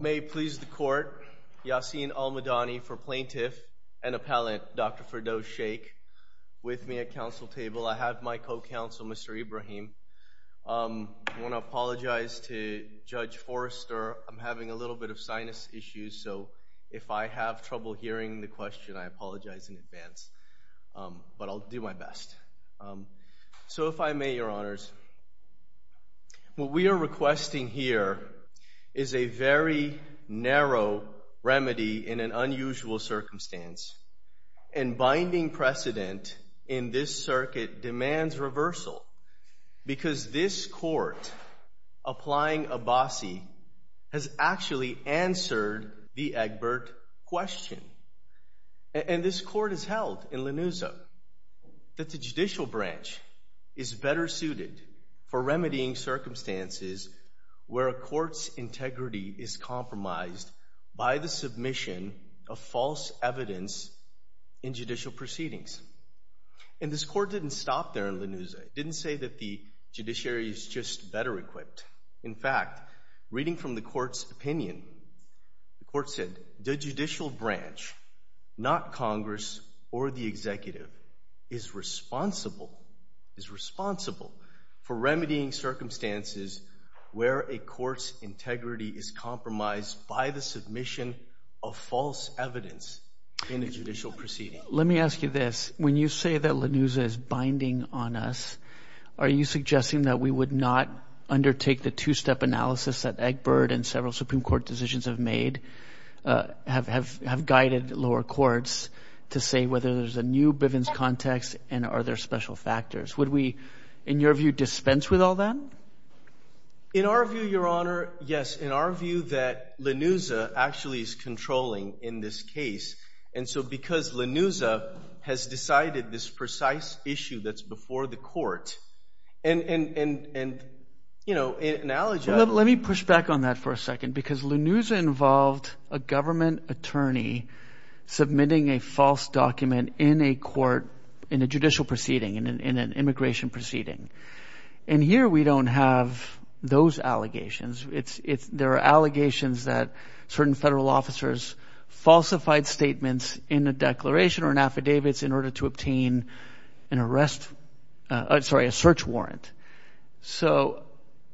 May it please the court, Yassin Almadani for plaintiff and appellant Dr. Firdos Sheikh with me at council table. I have my co-counsel Mr. Ibrahim. I want to apologize to Judge Forrester. I'm having a little bit of sinus issues so if I have trouble hearing the question I apologize in advance but I'll do my best. So if I may your honors, what we are requesting here is a very narrow remedy in an unusual circumstance and binding precedent in this circuit demands reversal because this court applying Abbasi has actually answered the and this court has held in Lenuza that the judicial branch is better suited for remedying circumstances where a court's integrity is compromised by the submission of false evidence in judicial proceedings. And this court didn't stop there in Lenuza. It didn't say that the judiciary is just better equipped. In fact, reading from the court's opinion, the court said the judicial branch, not Congress or the executive, is responsible, is responsible for remedying circumstances where a court's integrity is compromised by the submission of false evidence in a judicial proceeding. Let me ask you this. When you say that Lenuza is binding on us, are you suggesting that we would not undertake the two-step analysis that Egbert and several Supreme Court decisions have made have guided lower courts to say whether there's a new Bivens context and are there special factors? Would we, in your view, dispense with all that? In our view, your honor, yes. In our view that Lenuza actually is controlling in this case and so because Lenuza has decided this precise issue that's for the court and, you know, an allegation. Let me push back on that for a second because Lenuza involved a government attorney submitting a false document in a court, in a judicial proceeding, in an immigration proceeding. And here we don't have those allegations. There are allegations that certain federal officers falsified statements in a declaration or in affidavits in order to obtain an arrest, sorry, a search warrant. So,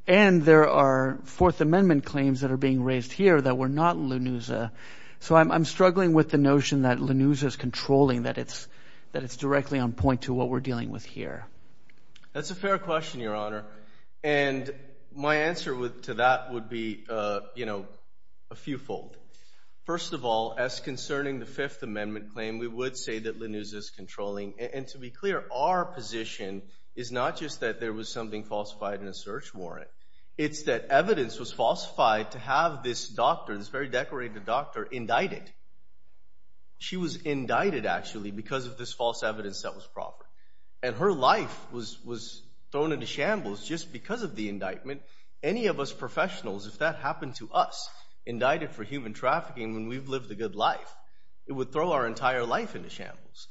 and there are Fourth Amendment claims that are being raised here that were not Lenuza. So I'm struggling with the notion that Lenuza is controlling, that it's directly on point to what we're dealing with here. That's a fair question, your honor. And my answer to that would be, you know, a few fold. First of all, as concerning the Fifth Amendment claim, we would say that Lenuza is controlling. And to be clear, our position is not just that there was something falsified in a search warrant. It's that evidence was falsified to have this doctor, this very decorated doctor, indicted. She was indicted actually because of this false evidence that was proper. And her life was thrown into shambles just because of the indictment. Any of us would say, what would happen to us, indicted for human trafficking, when we've lived a good life? It would throw our entire life into shambles.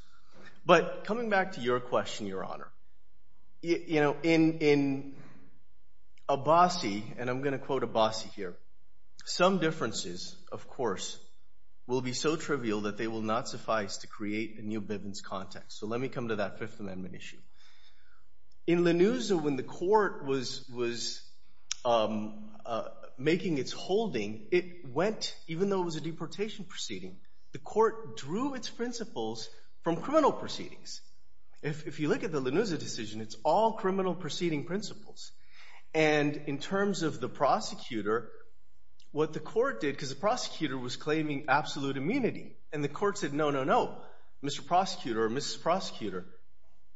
But coming back to your question, your honor, you know, in Abassi, and I'm going to quote Abassi here, some differences, of course, will be so trivial that they will not suffice to create a new Bivens context. So let me come to that Fifth Amendment issue. In Lenuza, when the court was making its decision it's holding, it went, even though it was a deportation proceeding, the court drew its principles from criminal proceedings. If you look at the Lenuza decision, it's all criminal proceeding principles. And in terms of the prosecutor, what the court did, because the prosecutor was claiming absolute immunity, and the court said, no, no, no, Mr. Prosecutor or Mrs. Prosecutor,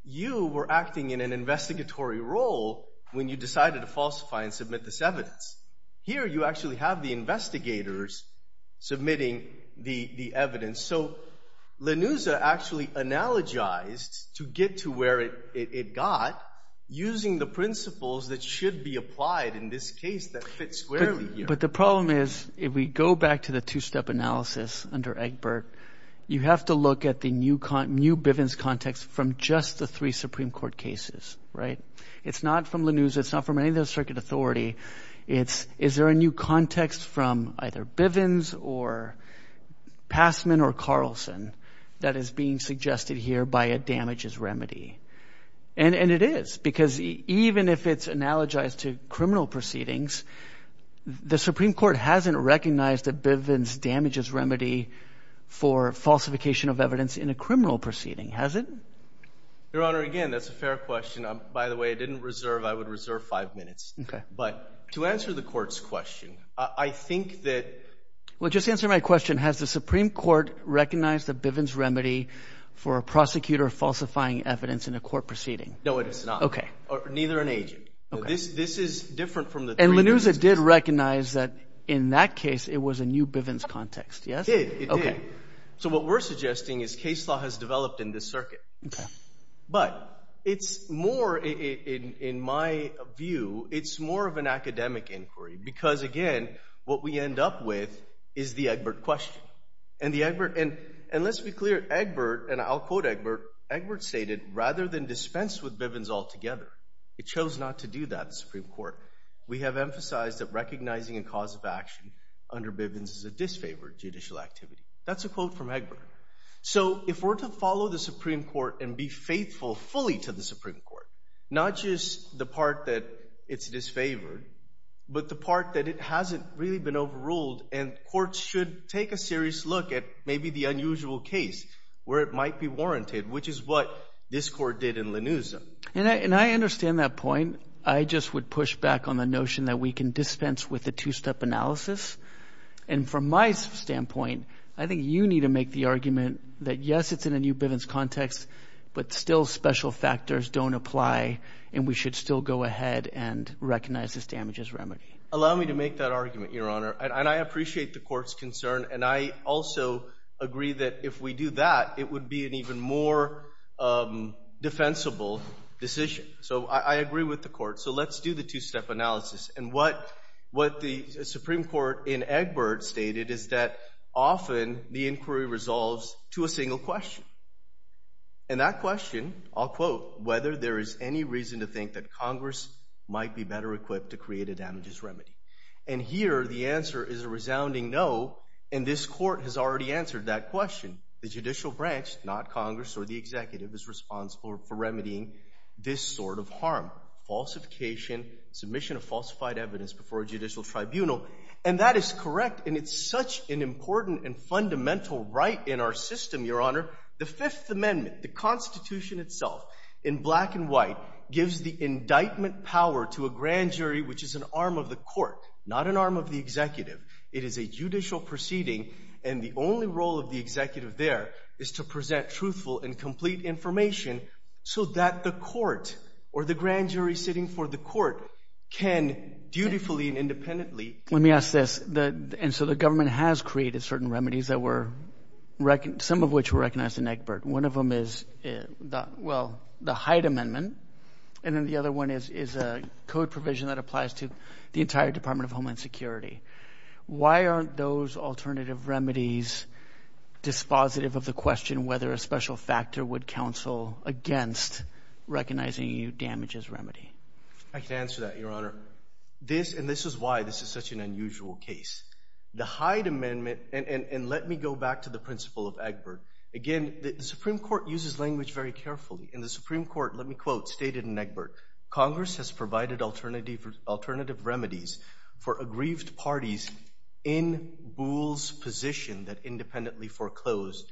you were acting in an investigatory role when you decided to falsify and submit this evidence. Here you actually have the investigators submitting the evidence. So Lenuza actually analogized to get to where it got using the principles that should be applied in this case that fits squarely here. But the problem is, if we go back to the two-step analysis under Egbert, you have to look at the new Bivens context from just the three Supreme Court cases, right? It's not from the authority. It's, is there a new context from either Bivens or Passman or Carlson that is being suggested here by a damages remedy? And it is, because even if it's analogized to criminal proceedings, the Supreme Court hasn't recognized that Bivens damages remedy for falsification of evidence in a criminal proceeding, has it? Your Honor, again, that's a fair question. By the way, I didn't reserve, I would reserve five minutes. But to answer the court's question, I think that... Well, just answer my question. Has the Supreme Court recognized the Bivens remedy for a prosecutor falsifying evidence in a court proceeding? No, it has not. Okay. Neither an agent. This, this is different from the... And Lenuza did recognize that in that case, it was a new Bivens context, yes? It did, it did. So what we're suggesting is case law has developed in this circuit. But it's more, in, in, in my view, it's more of an academic inquiry. Because again, what we end up with is the Egbert question. And the Egbert, and, and let's be clear, Egbert, and I'll quote Egbert, Egbert stated, rather than dispense with Bivens altogether, it chose not to do that in Supreme Court. We have emphasized that recognizing a cause of action under Bivens is a disfavored judicial activity. That's a quote from Egbert. So if we're to follow the Supreme Court and be faithful fully to the Supreme Court, not just the part that it's disfavored, but the part that it hasn't really been overruled, and courts should take a serious look at maybe the unusual case where it might be warranted, which is what this court did in Lenuza. And I, and I understand that point. I just would push back on the notion that we can dispense with the two-step analysis. And from my standpoint, I think you need to make the but still special factors don't apply. And we should still go ahead and recognize this damage as remedy. Allow me to make that argument, Your Honor. And I appreciate the court's concern. And I also agree that if we do that, it would be an even more defensible decision. So I agree with the court. So let's do the two-step analysis. And what, what the Supreme Court in Egbert stated is that often the inquiry resolves to a single question. And that question, I'll quote, whether there is any reason to think that Congress might be better equipped to create a damages remedy. And here the answer is a resounding no. And this court has already answered that question. The judicial branch, not Congress or the executive, is responsible for remedying this sort of harm, falsification, submission of falsified evidence before a That is correct. And it's such an important and fundamental right in our system, Your Honor. The Fifth Amendment, the Constitution itself, in black and white, gives the indictment power to a grand jury, which is an arm of the court, not an arm of the executive. It is a judicial proceeding. And the only role of the executive there is to present truthful and complete information so that the court or the grand jury sitting for the court can dutifully and independently Let me ask this. And so the government has created certain remedies that were, some of which were recognized in Egbert. One of them is, well, the Hyde Amendment. And then the other one is a code provision that applies to the entire Department of Homeland Security. Why aren't those alternative remedies dispositive of the question whether a special factor would counsel against recognizing a damages remedy? I can answer that, Your Honor. This, and this is why this is such an unusual case. The Hyde Amendment, and let me go back to the principle of Egbert. Again, the Supreme Court uses language very carefully. In the Supreme Court, let me quote, stated in Egbert, Congress has provided alternative remedies for aggrieved parties in Boole's position that independently foreclosed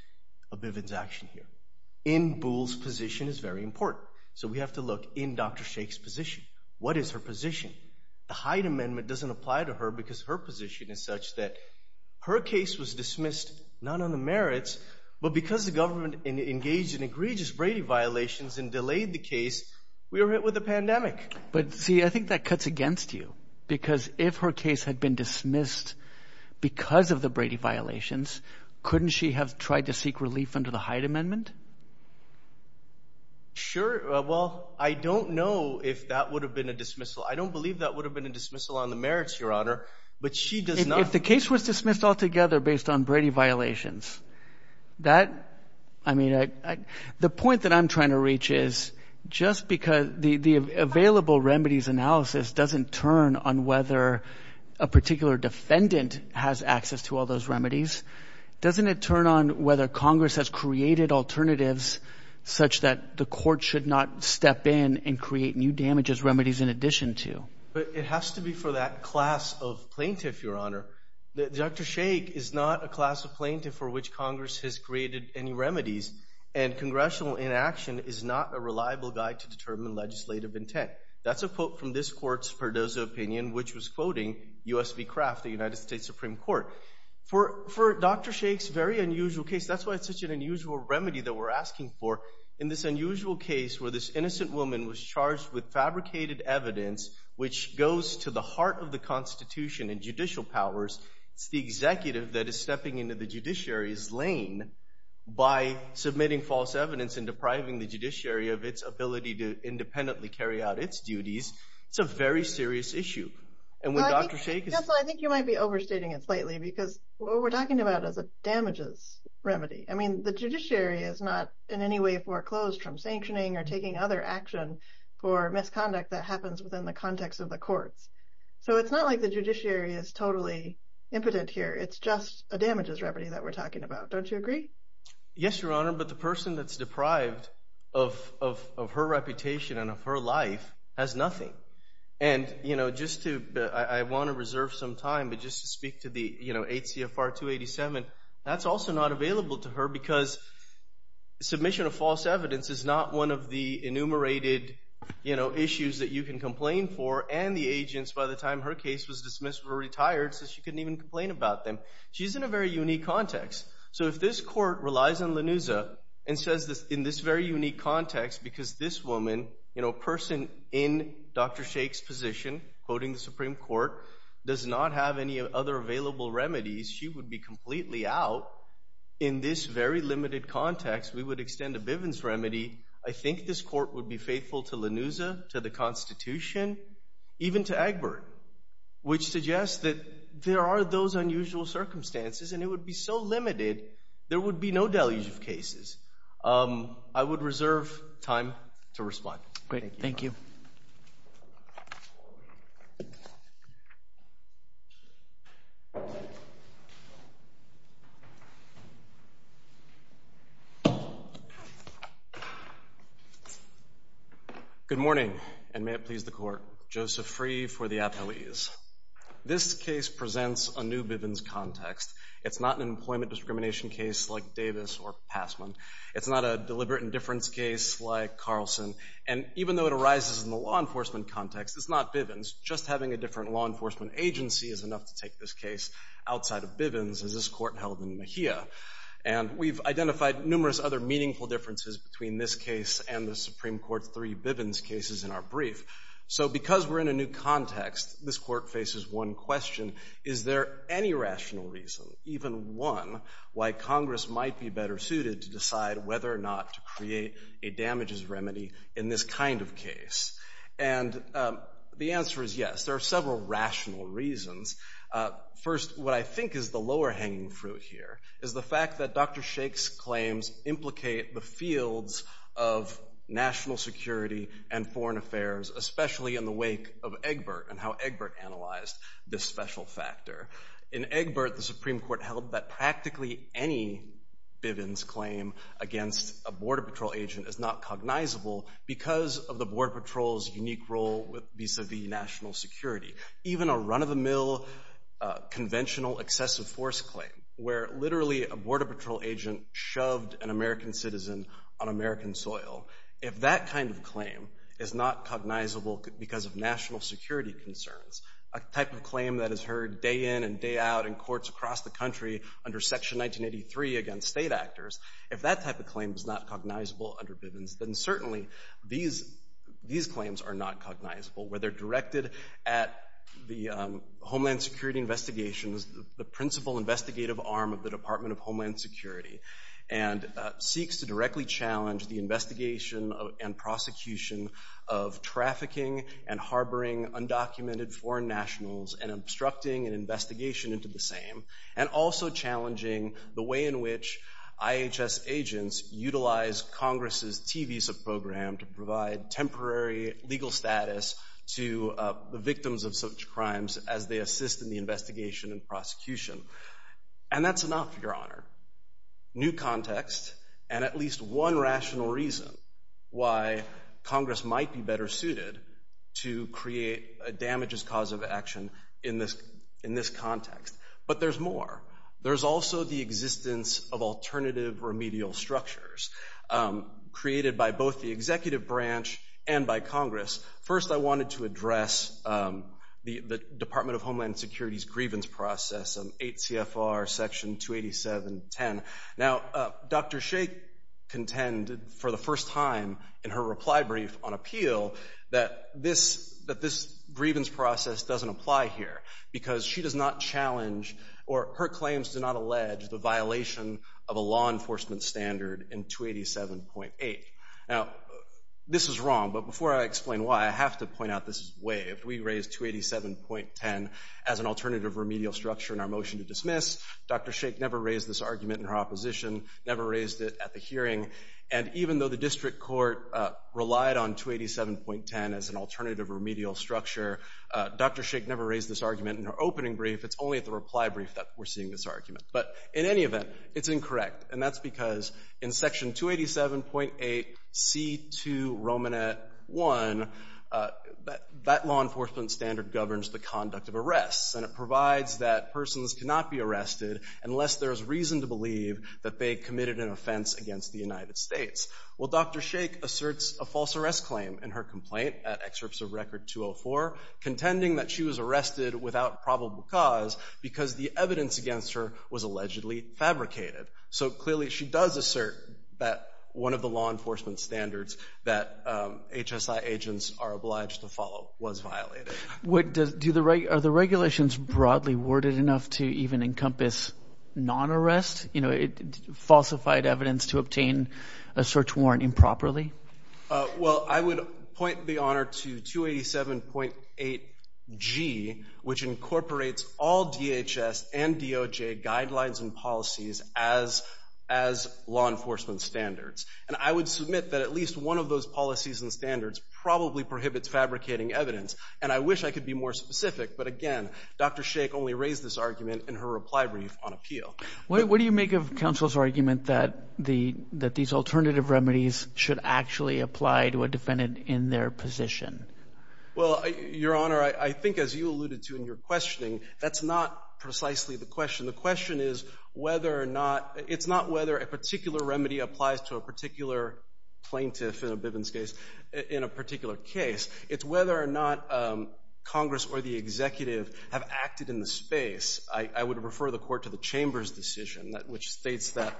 a Bivens action here. In Boole's position is very important. So we have to look in Dr. Blake's position. What is her position? The Hyde Amendment doesn't apply to her because her position is such that her case was dismissed, not on the merits, but because the government engaged in egregious Brady violations and delayed the case, we were hit with a pandemic. But see, I think that cuts against you. Because if her case had been dismissed because of the Brady violations, couldn't she have tried to seek relief under the Hyde Amendment? Sure. Well, I don't know if that would have been a dismissal. I don't believe that would have been a dismissal on the merits, Your Honor, but she does not. If the case was dismissed altogether based on Brady violations, that, I mean, the point that I'm trying to reach is just because the available remedies analysis doesn't turn on whether a particular defendant has access to all those remedies. Doesn't it turn on whether Congress has created alternatives such that the court should not step in and create new damages remedies in addition to? But it has to be for that class of plaintiff, Your Honor. Dr. Shaik is not a class of plaintiff for which Congress has created any remedies, and congressional inaction is not a reliable guide to determine legislative intent. That's a quote from this court's Pardozo opinion, which was quoting U.S. v. Kraft, the United States Supreme Court. For Dr. Shaik's very unusual case, that's why it's such an unusual remedy that we're asking for. In this unusual case where this innocent woman was charged with fabricated evidence, which goes to the heart of the Constitution and judicial powers, it's the executive that is stepping into the judiciary's lane by submitting false evidence and depriving the judiciary of its ability to independently carry out its duties. It's a very serious issue. And when Dr. Shaik is I think you might be overstating it slightly, because what we're talking about is a damages remedy. I mean, the judiciary is not in any way foreclosed from sanctioning or taking other action for misconduct that happens within the context of the courts. So it's not like the judiciary is totally impotent here. It's just a damages remedy that we're talking about. Don't you agree? Yes, Your Honor. But the person that's deprived of her reputation and of her life has nothing. And just to, I want to reserve some time, but just to speak to the 8 CFR 287, that's also not available to her because submission of false evidence is not one of the enumerated issues that you can complain for and the agents by the time her case was dismissed were retired so she couldn't even complain about them. She's in a very unique context. So if this court relies on Lanuza and says in this very unique context, because this woman, a person in Dr. Sheikh's position, quoting the Supreme Court, does not have any other available remedies, she would be completely out. In this very limited context, we would extend a Bivens remedy. I think this court would be faithful to Lanuza, to the Constitution, even to Egbert, which suggests that there are those unusual circumstances and it would be so limited, there would be no deluge of cases. I would reserve time to respond. Great, thank you. Good morning, and may it please the Court. Joseph Free for the appellees. This case presents a new Bivens context. It's not an employment discrimination case like Davis or Passman. It's not a deliberate indifference case like Carlson. And even though it arises in the law enforcement context, it's not Bivens. Just having a different law enforcement agency is enough to take this case outside of Bivens, as this court held in Mejia. And we've identified numerous other meaningful differences between this case and the Supreme Court's three Bivens cases in our brief. So because we're in a new context, this court faces one question. Is there any rational reason, even one, why Congress might be better suited to decide whether or not to create a damages remedy in this kind of case? And the answer is yes. There are several rational reasons. First, what I think is the lower hanging fruit here is the fact that Dr. Sheikh's claims implicate the fields of national security and foreign affairs, especially in the wake of Egbert and how Egbert analyzed this special factor. In Egbert, the Supreme Court held that practically any Bivens claim against a Border Patrol agent is not cognizable because of the Border Patrol's unique role vis-a-vis national security. Even a run-of-the-mill conventional excessive force claim, where literally a Border Patrol agent shoved an American citizen on American soil, if that kind of claim is not cognizable because of national security concerns, a type of claim that is heard day in and day out in courts across the country under Section 1983 against state actors, if that type of claim is not cognizable under Bivens, then certainly these claims are not cognizable, whether directed at the Homeland Security Investigations, the principal investigative arm of the Department of Homeland Security, and seeks to directly challenge the investigation and prosecution of trafficking and harboring undocumented foreign nationals and obstructing an investigation into the same, and also challenging the way in which IHS agents utilize Congress's T-Visa program to provide temporary legal status to the victims of such crimes as they assist in the investigation and prosecution. And that's enough, Your Honor. New context and at least one rational reason why Congress might be better suited to create a damages cause of action in this context. But there's more. There's also the existence of alternative remedial structures created by both the executive branch and by Congress. First, I wanted to touch on the Homeland Security's grievance process, 8 CFR Section 287.10. Now, Dr. Shea contended for the first time in her reply brief on appeal that this grievance process doesn't apply here because she does not challenge or her claims do not allege the violation of a law enforcement standard in 287.8. Now, this is wrong, but before I explain why, I believe we raised 287.10 as an alternative remedial structure in our motion to dismiss. Dr. Shea never raised this argument in her opposition, never raised it at the hearing, and even though the district court relied on 287.10 as an alternative remedial structure, Dr. Shea never raised this argument in her opening brief. It's only at the reply brief that we're seeing this argument. But in any event, it's incorrect, and that's because in Section 287.8C2 Romanet 1, that law enforcement standard governs the conduct of arrests, and it provides that persons cannot be arrested unless there is reason to believe that they committed an offense against the United States. Well, Dr. Shea asserts a false arrest claim in her complaint at Excerpts of Record 204, contending that she was arrested without probable cause because the evidence against her was allegedly fabricated. So clearly, she does assert that one of the law enforcement standards that HSI agents are obliged to follow was violated. Are the regulations broadly worded enough to even encompass non-arrest, you know, falsified evidence to obtain a search warrant improperly? Well, I would point the honor to 287.8G, which incorporates all DHS and DOJ guidelines and policies as law enforcement standards. And I would submit that at least one of those policies and standards probably prohibits fabricating evidence. And I wish I could be more specific, but again, Dr. Shea only raised this argument in her reply brief on appeal. What do you make of counsel's argument that these alternative remedies should actually apply to a defendant in their position? Well, Your Honor, I think as you alluded to in your questioning, that's not precisely the question. The question is whether or not, it's not whether a particular remedy applies to a particular plaintiff in a Bivens case, in a particular case. It's whether or not Congress or the executive have acted in the space. I would refer the court to the chambers decision, which states that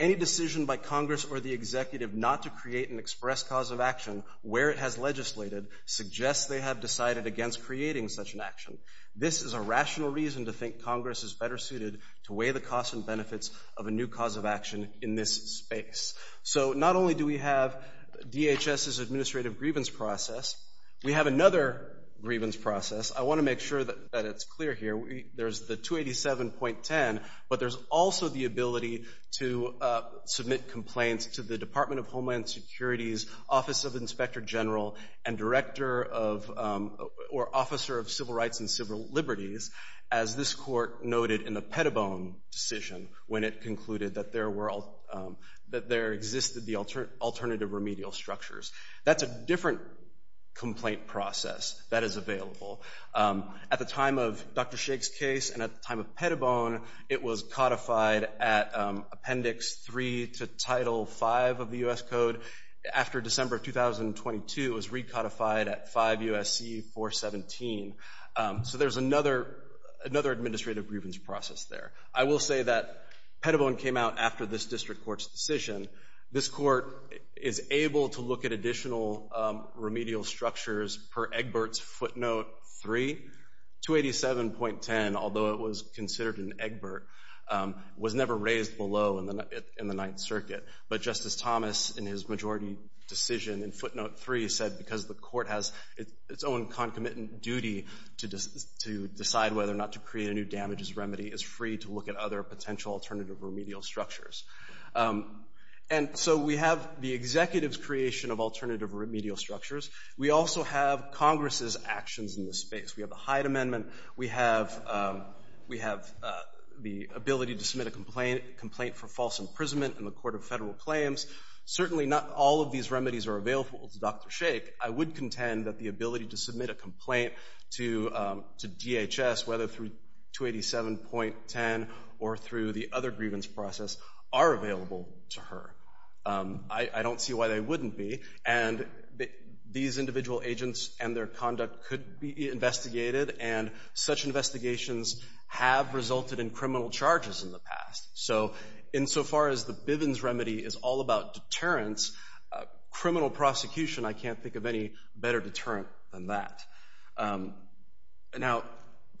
any decision by Congress or the executive not to create an express cause of action where it has legislated suggests they have decided against creating such an action. This is a rational reason to think Congress is better suited to weigh the costs and benefits of a new cause of action in this space. So not only do we have DHS's administrative grievance process, we have another grievance process. I want to make sure that it's clear here. There's the 287.10, but there's also the ability to submit complaints to the Department of Homeland Security's Office of Inspector General and Director of, or Officer of Civil Rights and Civil Liberties, as this court noted in the Pettibone decision when it concluded that there were, that there existed the alternative remedial structures. That's a different complaint process that is available. At the time of Dr. Shake's case and at the time of Pettibone, it was codified at Appendix 3 to Title 5 of the U.S. Code. After December of 2022, it was recodified at 5 U.S.C. 417. So there's another, another administrative grievance process there. I will say that Pettibone came out after this district court's decision. This court is able to look at additional remedial structures per Egbert's footnote 3. 287.10, although it was considered an Egbert, was never raised below in the Ninth Circuit. But Justice Thomas, in his majority decision in footnote 3, said because the court has its own concomitant duty to decide whether or not to create a new damages remedy, is free to look at other potential alternative remedial structures. And so we have the executive's creation of alternative remedial structures. We also have Congress's actions in this space. We have the Hyde Amendment. We have the ability to submit a complaint for false imprisonment in the Court of Federal Claims. Certainly not all of these remedies are available to Dr. Shake. I would contend that the ability to submit a complaint to DHS, whether through 287.10 or through the other grievance process, are available to her. I don't see why they wouldn't be. And these individual agents and their conduct could be investigated, and such investigations have resulted in criminal charges in the past. So insofar as the Bivens remedy is all about deterrence, criminal prosecution, I can't think of any better deterrent than that. Now,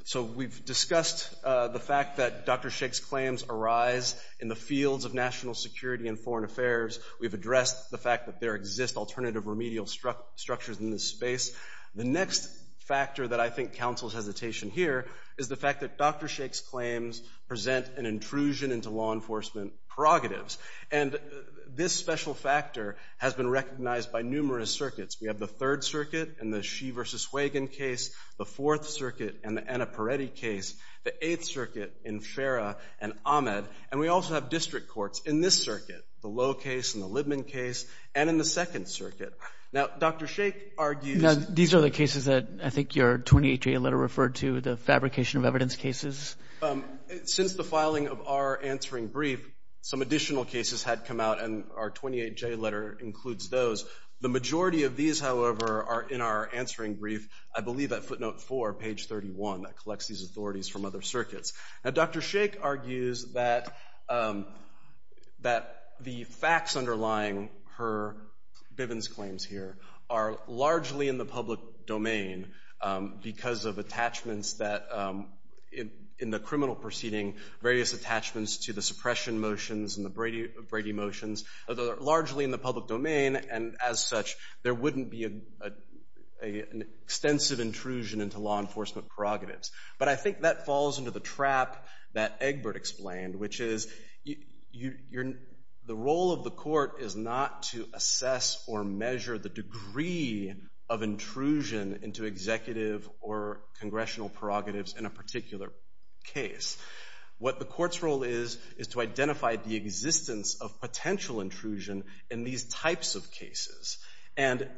so we've discussed the fact that Dr. Shake's claims arise in the fields of national security and foreign affairs. We've addressed the fact that there exist alternative remedial structures in this space. The next factor that I think counsels hesitation here is the fact that Dr. Shake's claims present an intrusion into law enforcement prerogatives. And this special factor has been recognized by numerous circuits. We have the Third Circuit in the Shea v. Wagon case, the Fourth Circuit in the Annaparetti case, the Eighth Circuit in Farah and Ahmed, and we also have district courts in this circuit, the Lowe case and the Libman case, and in the Second Circuit. Now, Dr. Shake argues- Now, these are the cases that I think your 28J letter referred to, the fabrication of evidence cases. Since the filing of our answering brief, some additional cases had come out, and our 28J letter includes those. The majority of these, however, are in our answering brief, I believe at footnote four, page 31, that collects these authorities from other circuits. Now, Dr. Shake argues that the facts underlying her Bivens claims here are largely in the public domain because of attachments that, in the criminal proceeding, various attachments to the suppression motions and the Brady motions are largely in the public domain, and as such, there wouldn't be an extensive intrusion into law enforcement prerogatives. But I think that falls into the trap that Egbert explained, which is the role of the court is not to assess or measure the degree of intrusion into executive or congressional prerogatives in a particular case. What the court's role is is to identify the existence of potential intrusion in these types of cases. And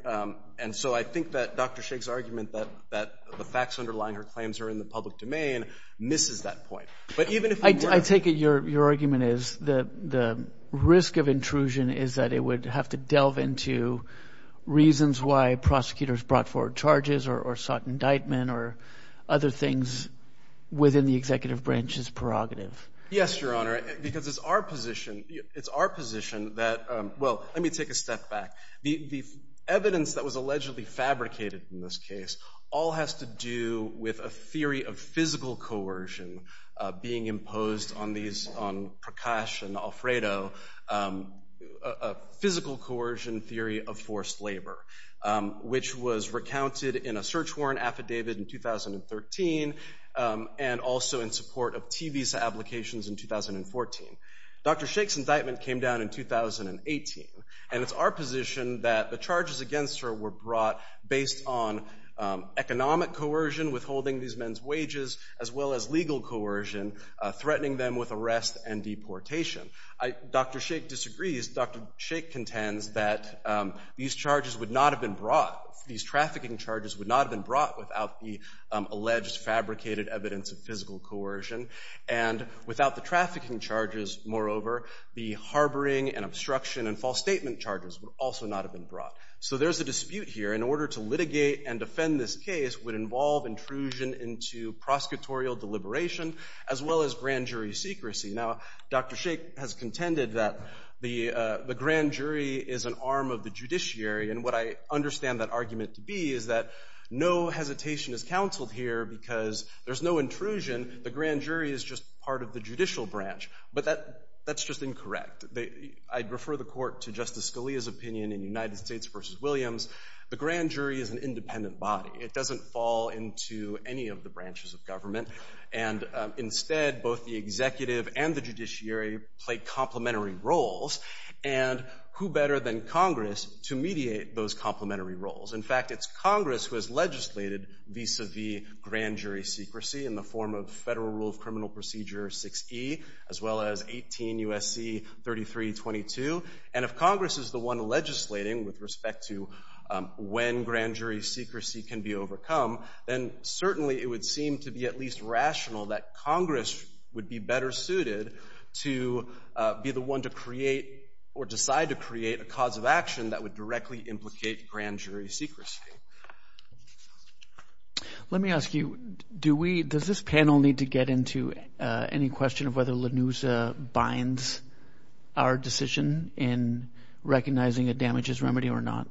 so I think that Dr. Shake's argument that the facts underlying her claims are in the public domain misses that point. But even if- I take it your argument is the risk of intrusion is that it would have to delve into reasons why prosecutors brought forward charges or sought indictment or other things within the executive branch's prerogative. Yes, Your Honor, because it's our position that- well, let me take a step back. The evidence that was allegedly fabricated in this case all has to do with a theory of physical coercion being imposed on these- on Prakash and Alfredo, a physical coercion theory of forced labor. Which was recounted in a search warrant affidavit in 2013 and also in support of T visa applications in 2014. Dr. Shake's indictment came down in 2018. And it's our position that the charges against her were brought based on economic coercion, withholding these men's wages, as well as legal coercion, threatening them with arrest and deportation. Dr. Shake disagrees. Dr. Shake contends that these charges would not have been brought- these trafficking charges would not have been brought without the alleged fabricated evidence of physical coercion. And without the trafficking charges, moreover, the harboring and obstruction and false statement charges would also not have been brought. So there's a dispute here. In order to litigate and defend this case would involve intrusion into prosecutorial deliberation as well as the grand jury is an arm of the judiciary. And what I understand that argument to be is that no hesitation is counseled here because there's no intrusion. The grand jury is just part of the judicial branch. But that- that's just incorrect. They- I'd refer the court to Justice Scalia's opinion in United States v. Williams. The grand jury is an independent body. It doesn't fall into any of the branches of government. And instead, both the executive and the judiciary play complementary roles. And who better than Congress to mediate those complementary roles? In fact, it's Congress who has legislated vis-a-vis grand jury secrecy in the form of Federal Rule of Criminal Procedure 6E as well as 18 U.S.C. 3322. And if Congress is the one legislating with respect to when grand jury secrecy can be overcome, then certainly it would seem to be at least rational that Congress would be better suited to be the one to create or decide to create a cause of action that would directly implicate grand jury secrecy. Let me ask you, do we- does this panel need to get into any question of whether LaNuza binds our decision in recognizing a damages remedy or not?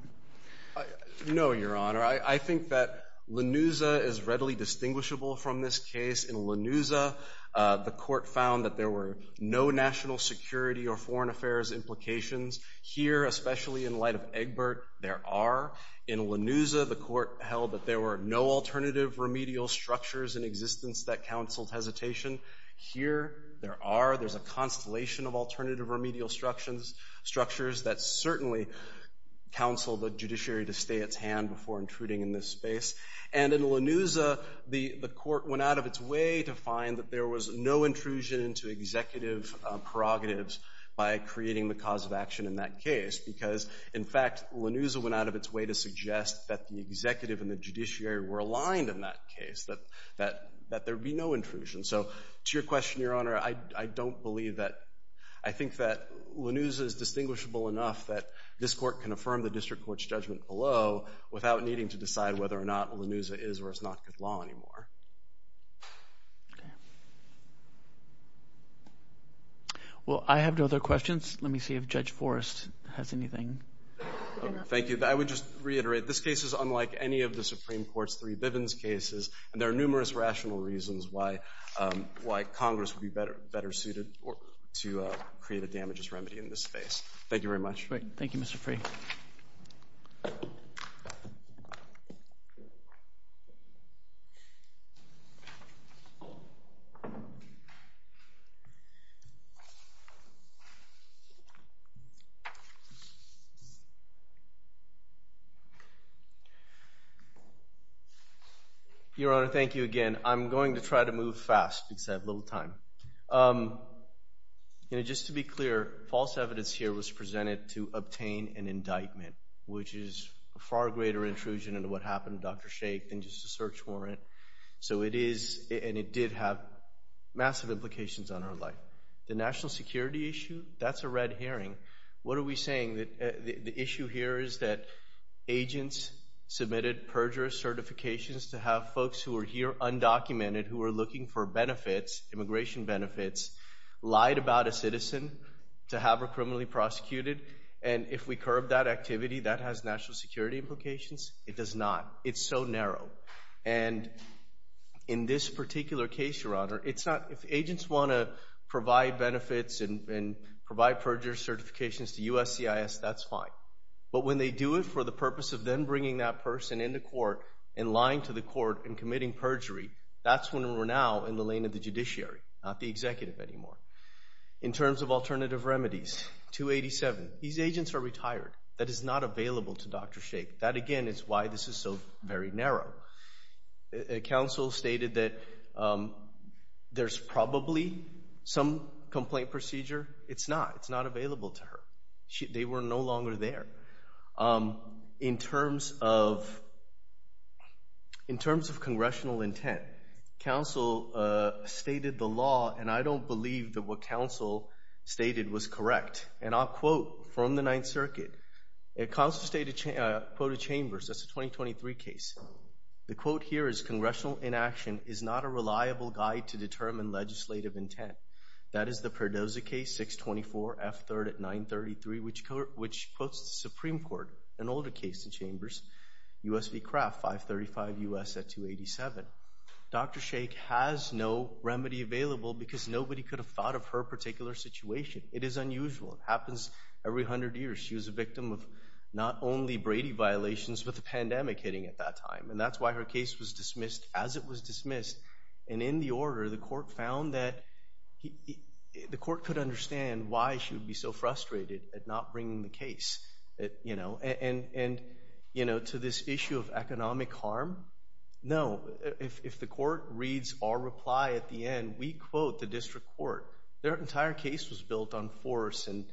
No, Your Honor. I think that LaNuza is readily distinguishable from this case. In LaNuza, the court found that there were no national security or foreign affairs implications. Here, especially in light of Egbert, there are. In LaNuza, the court held that there were no alternative remedial structures in existence that counseled hesitation. Here, there are. There's a constellation of alternative remedial structures that certainly counsel the judiciary to stay its hand before intruding in this space. And in LaNuza, the court went out of its way to find that there was no intrusion into executive prerogatives by creating the cause of action in that case because, in fact, LaNuza went out of its way to suggest that the executive and the judiciary were aligned in that case, that there would be no intrusion. So to your question, Your Honor, I don't believe that- I think that LaNuza is distinguishable enough that this court can affirm the district court's judgment below without needing to decide whether or not LaNuza is or is not good law anymore. Well, I have no other questions. Let me see if Judge Forrest has anything. Thank you. I would just reiterate, this case is unlike any of the Supreme Court's three Bivens cases, and there are numerous rational reasons why Congress would be better suited to create a damages remedy in this space. Thank you very much. Great. Thank you, Mr. Freeh. Your Honor, thank you again. I'm going to try to move fast because I have little time. Just to be clear, false evidence here was presented to obtain an indictment, which is a far greater intrusion into what happened to Dr. Sheikh than just a search warrant. So it is, and it did have, massive implications on her life. The national security issue, that's a red herring. What are we saying? The issue here is that agents submitted perjurous certifications to have folks who are here undocumented, who are looking for benefits, immigration benefits, lied about a citizen to have her criminally prosecuted, and if we curb that activity, that has national security implications? It does not. It's so narrow. In this particular case, Your Honor, if agents want to provide benefits and provide perjurous certifications to USCIS, that's fine. But when they do it for the purpose of then bringing that person into court and lying to the court and committing perjury, that's when we're now in the lane of the judiciary, not the executive anymore. In terms of alternative remedies, 287, these agents are retired. That is not available to Dr. Sheikh. That, again, is why this is so very narrow. Counsel stated that there's probably some complaint procedure. It's not. It's not available to her. They were no longer there. In terms of congressional intent, counsel stated the law, and I don't believe that what counsel stated was correct. And I'll quote from the Ninth Circuit. Counsel quoted Chambers. That's a 2023 case. The quote here is, Congressional inaction is not a reliable guide to determine legislative intent. That is the 933, which quotes the Supreme Court, an older case in Chambers, U.S. v. Kraft, 535 U.S. at 287. Dr. Sheikh has no remedy available because nobody could have thought of her particular situation. It is unusual. It happens every 100 years. She was a victim of not only Brady violations but the pandemic hitting at that time. And that's why her case was dismissed as it was dismissed. And in the order, the court found that the court could understand why she would be so frustrated at not bringing the case, you know, and, you know, to this issue of economic harm. No. If the court reads our reply at the end, we quote the district court. Their entire case was built on force and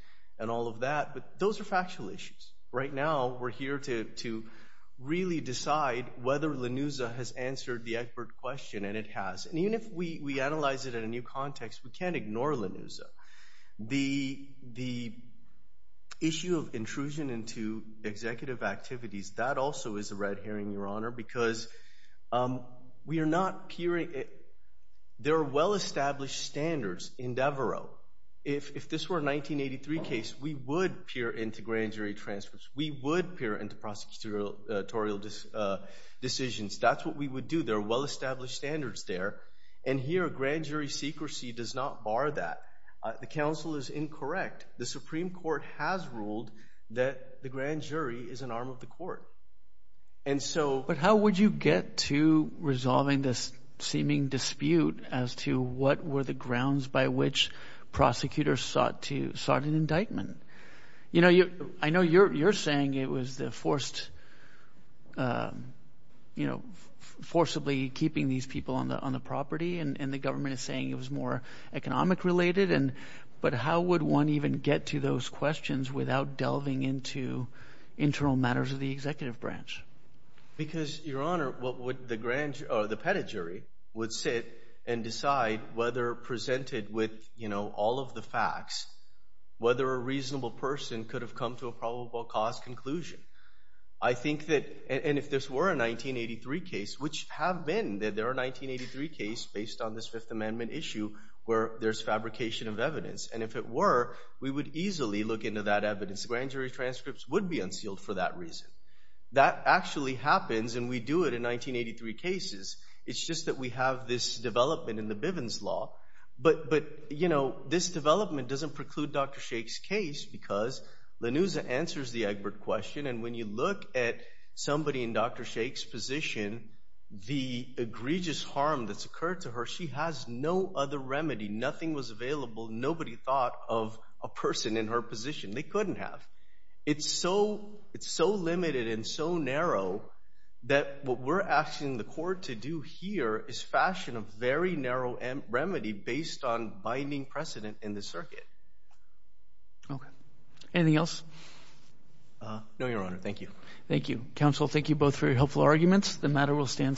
all of that. But those are factual issues. Right now, we're here to really decide whether Lanuza has answered the expert question, and it has. And even if we analyze it in a new context, we can't ignore Lanuza. The issue of intrusion into executive activities, that also is a red herring, Your Honor, because we are not peering. There are well-established standards in Devereux. If this were a 1983 case, we would peer into grand jury transfers. We would peer into prosecutorial decisions. That's what we would do. There are well-established standards there. And here, a grand jury secrecy does not bar that. The counsel is incorrect. The Supreme Court has ruled that the grand jury is an arm of the court. And so... But how would you get to resolving this seeming dispute as to what were the grounds by which prosecutors sought an indictment? You know, forcibly keeping these people on the property, and the government is saying it was more economic related. But how would one even get to those questions without delving into internal matters of the executive branch? Because, Your Honor, what would the grand jury or the pedigree would sit and decide whether presented with, you know, all of the facts, whether a reasonable person could have come to a probable cause conclusion? I think that, and if this were a 1983 case, which have been, there are 1983 cases based on this Fifth Amendment issue where there's fabrication of evidence. And if it were, we would easily look into that evidence. Grand jury transcripts would be unsealed for that reason. That actually happens and we do it in 1983 cases. It's just that we have this development in the Bivens Law. But, you know, this development doesn't preclude Dr. Shake's case because Lanuza answers the Egbert question. And when you look at somebody in Dr. Shake's position, the egregious harm that's occurred to her, she has no other remedy. Nothing was available. Nobody thought of a person in her position. They couldn't have. It's so limited and so narrow that what we're asking the court to do here is fashion a very narrow remedy based on binding precedent in the circuit. Okay. Anything else? No, Your Honor. Thank you. Thank you. Counsel, thank you both for your helpful arguments. The matter will stand submitted.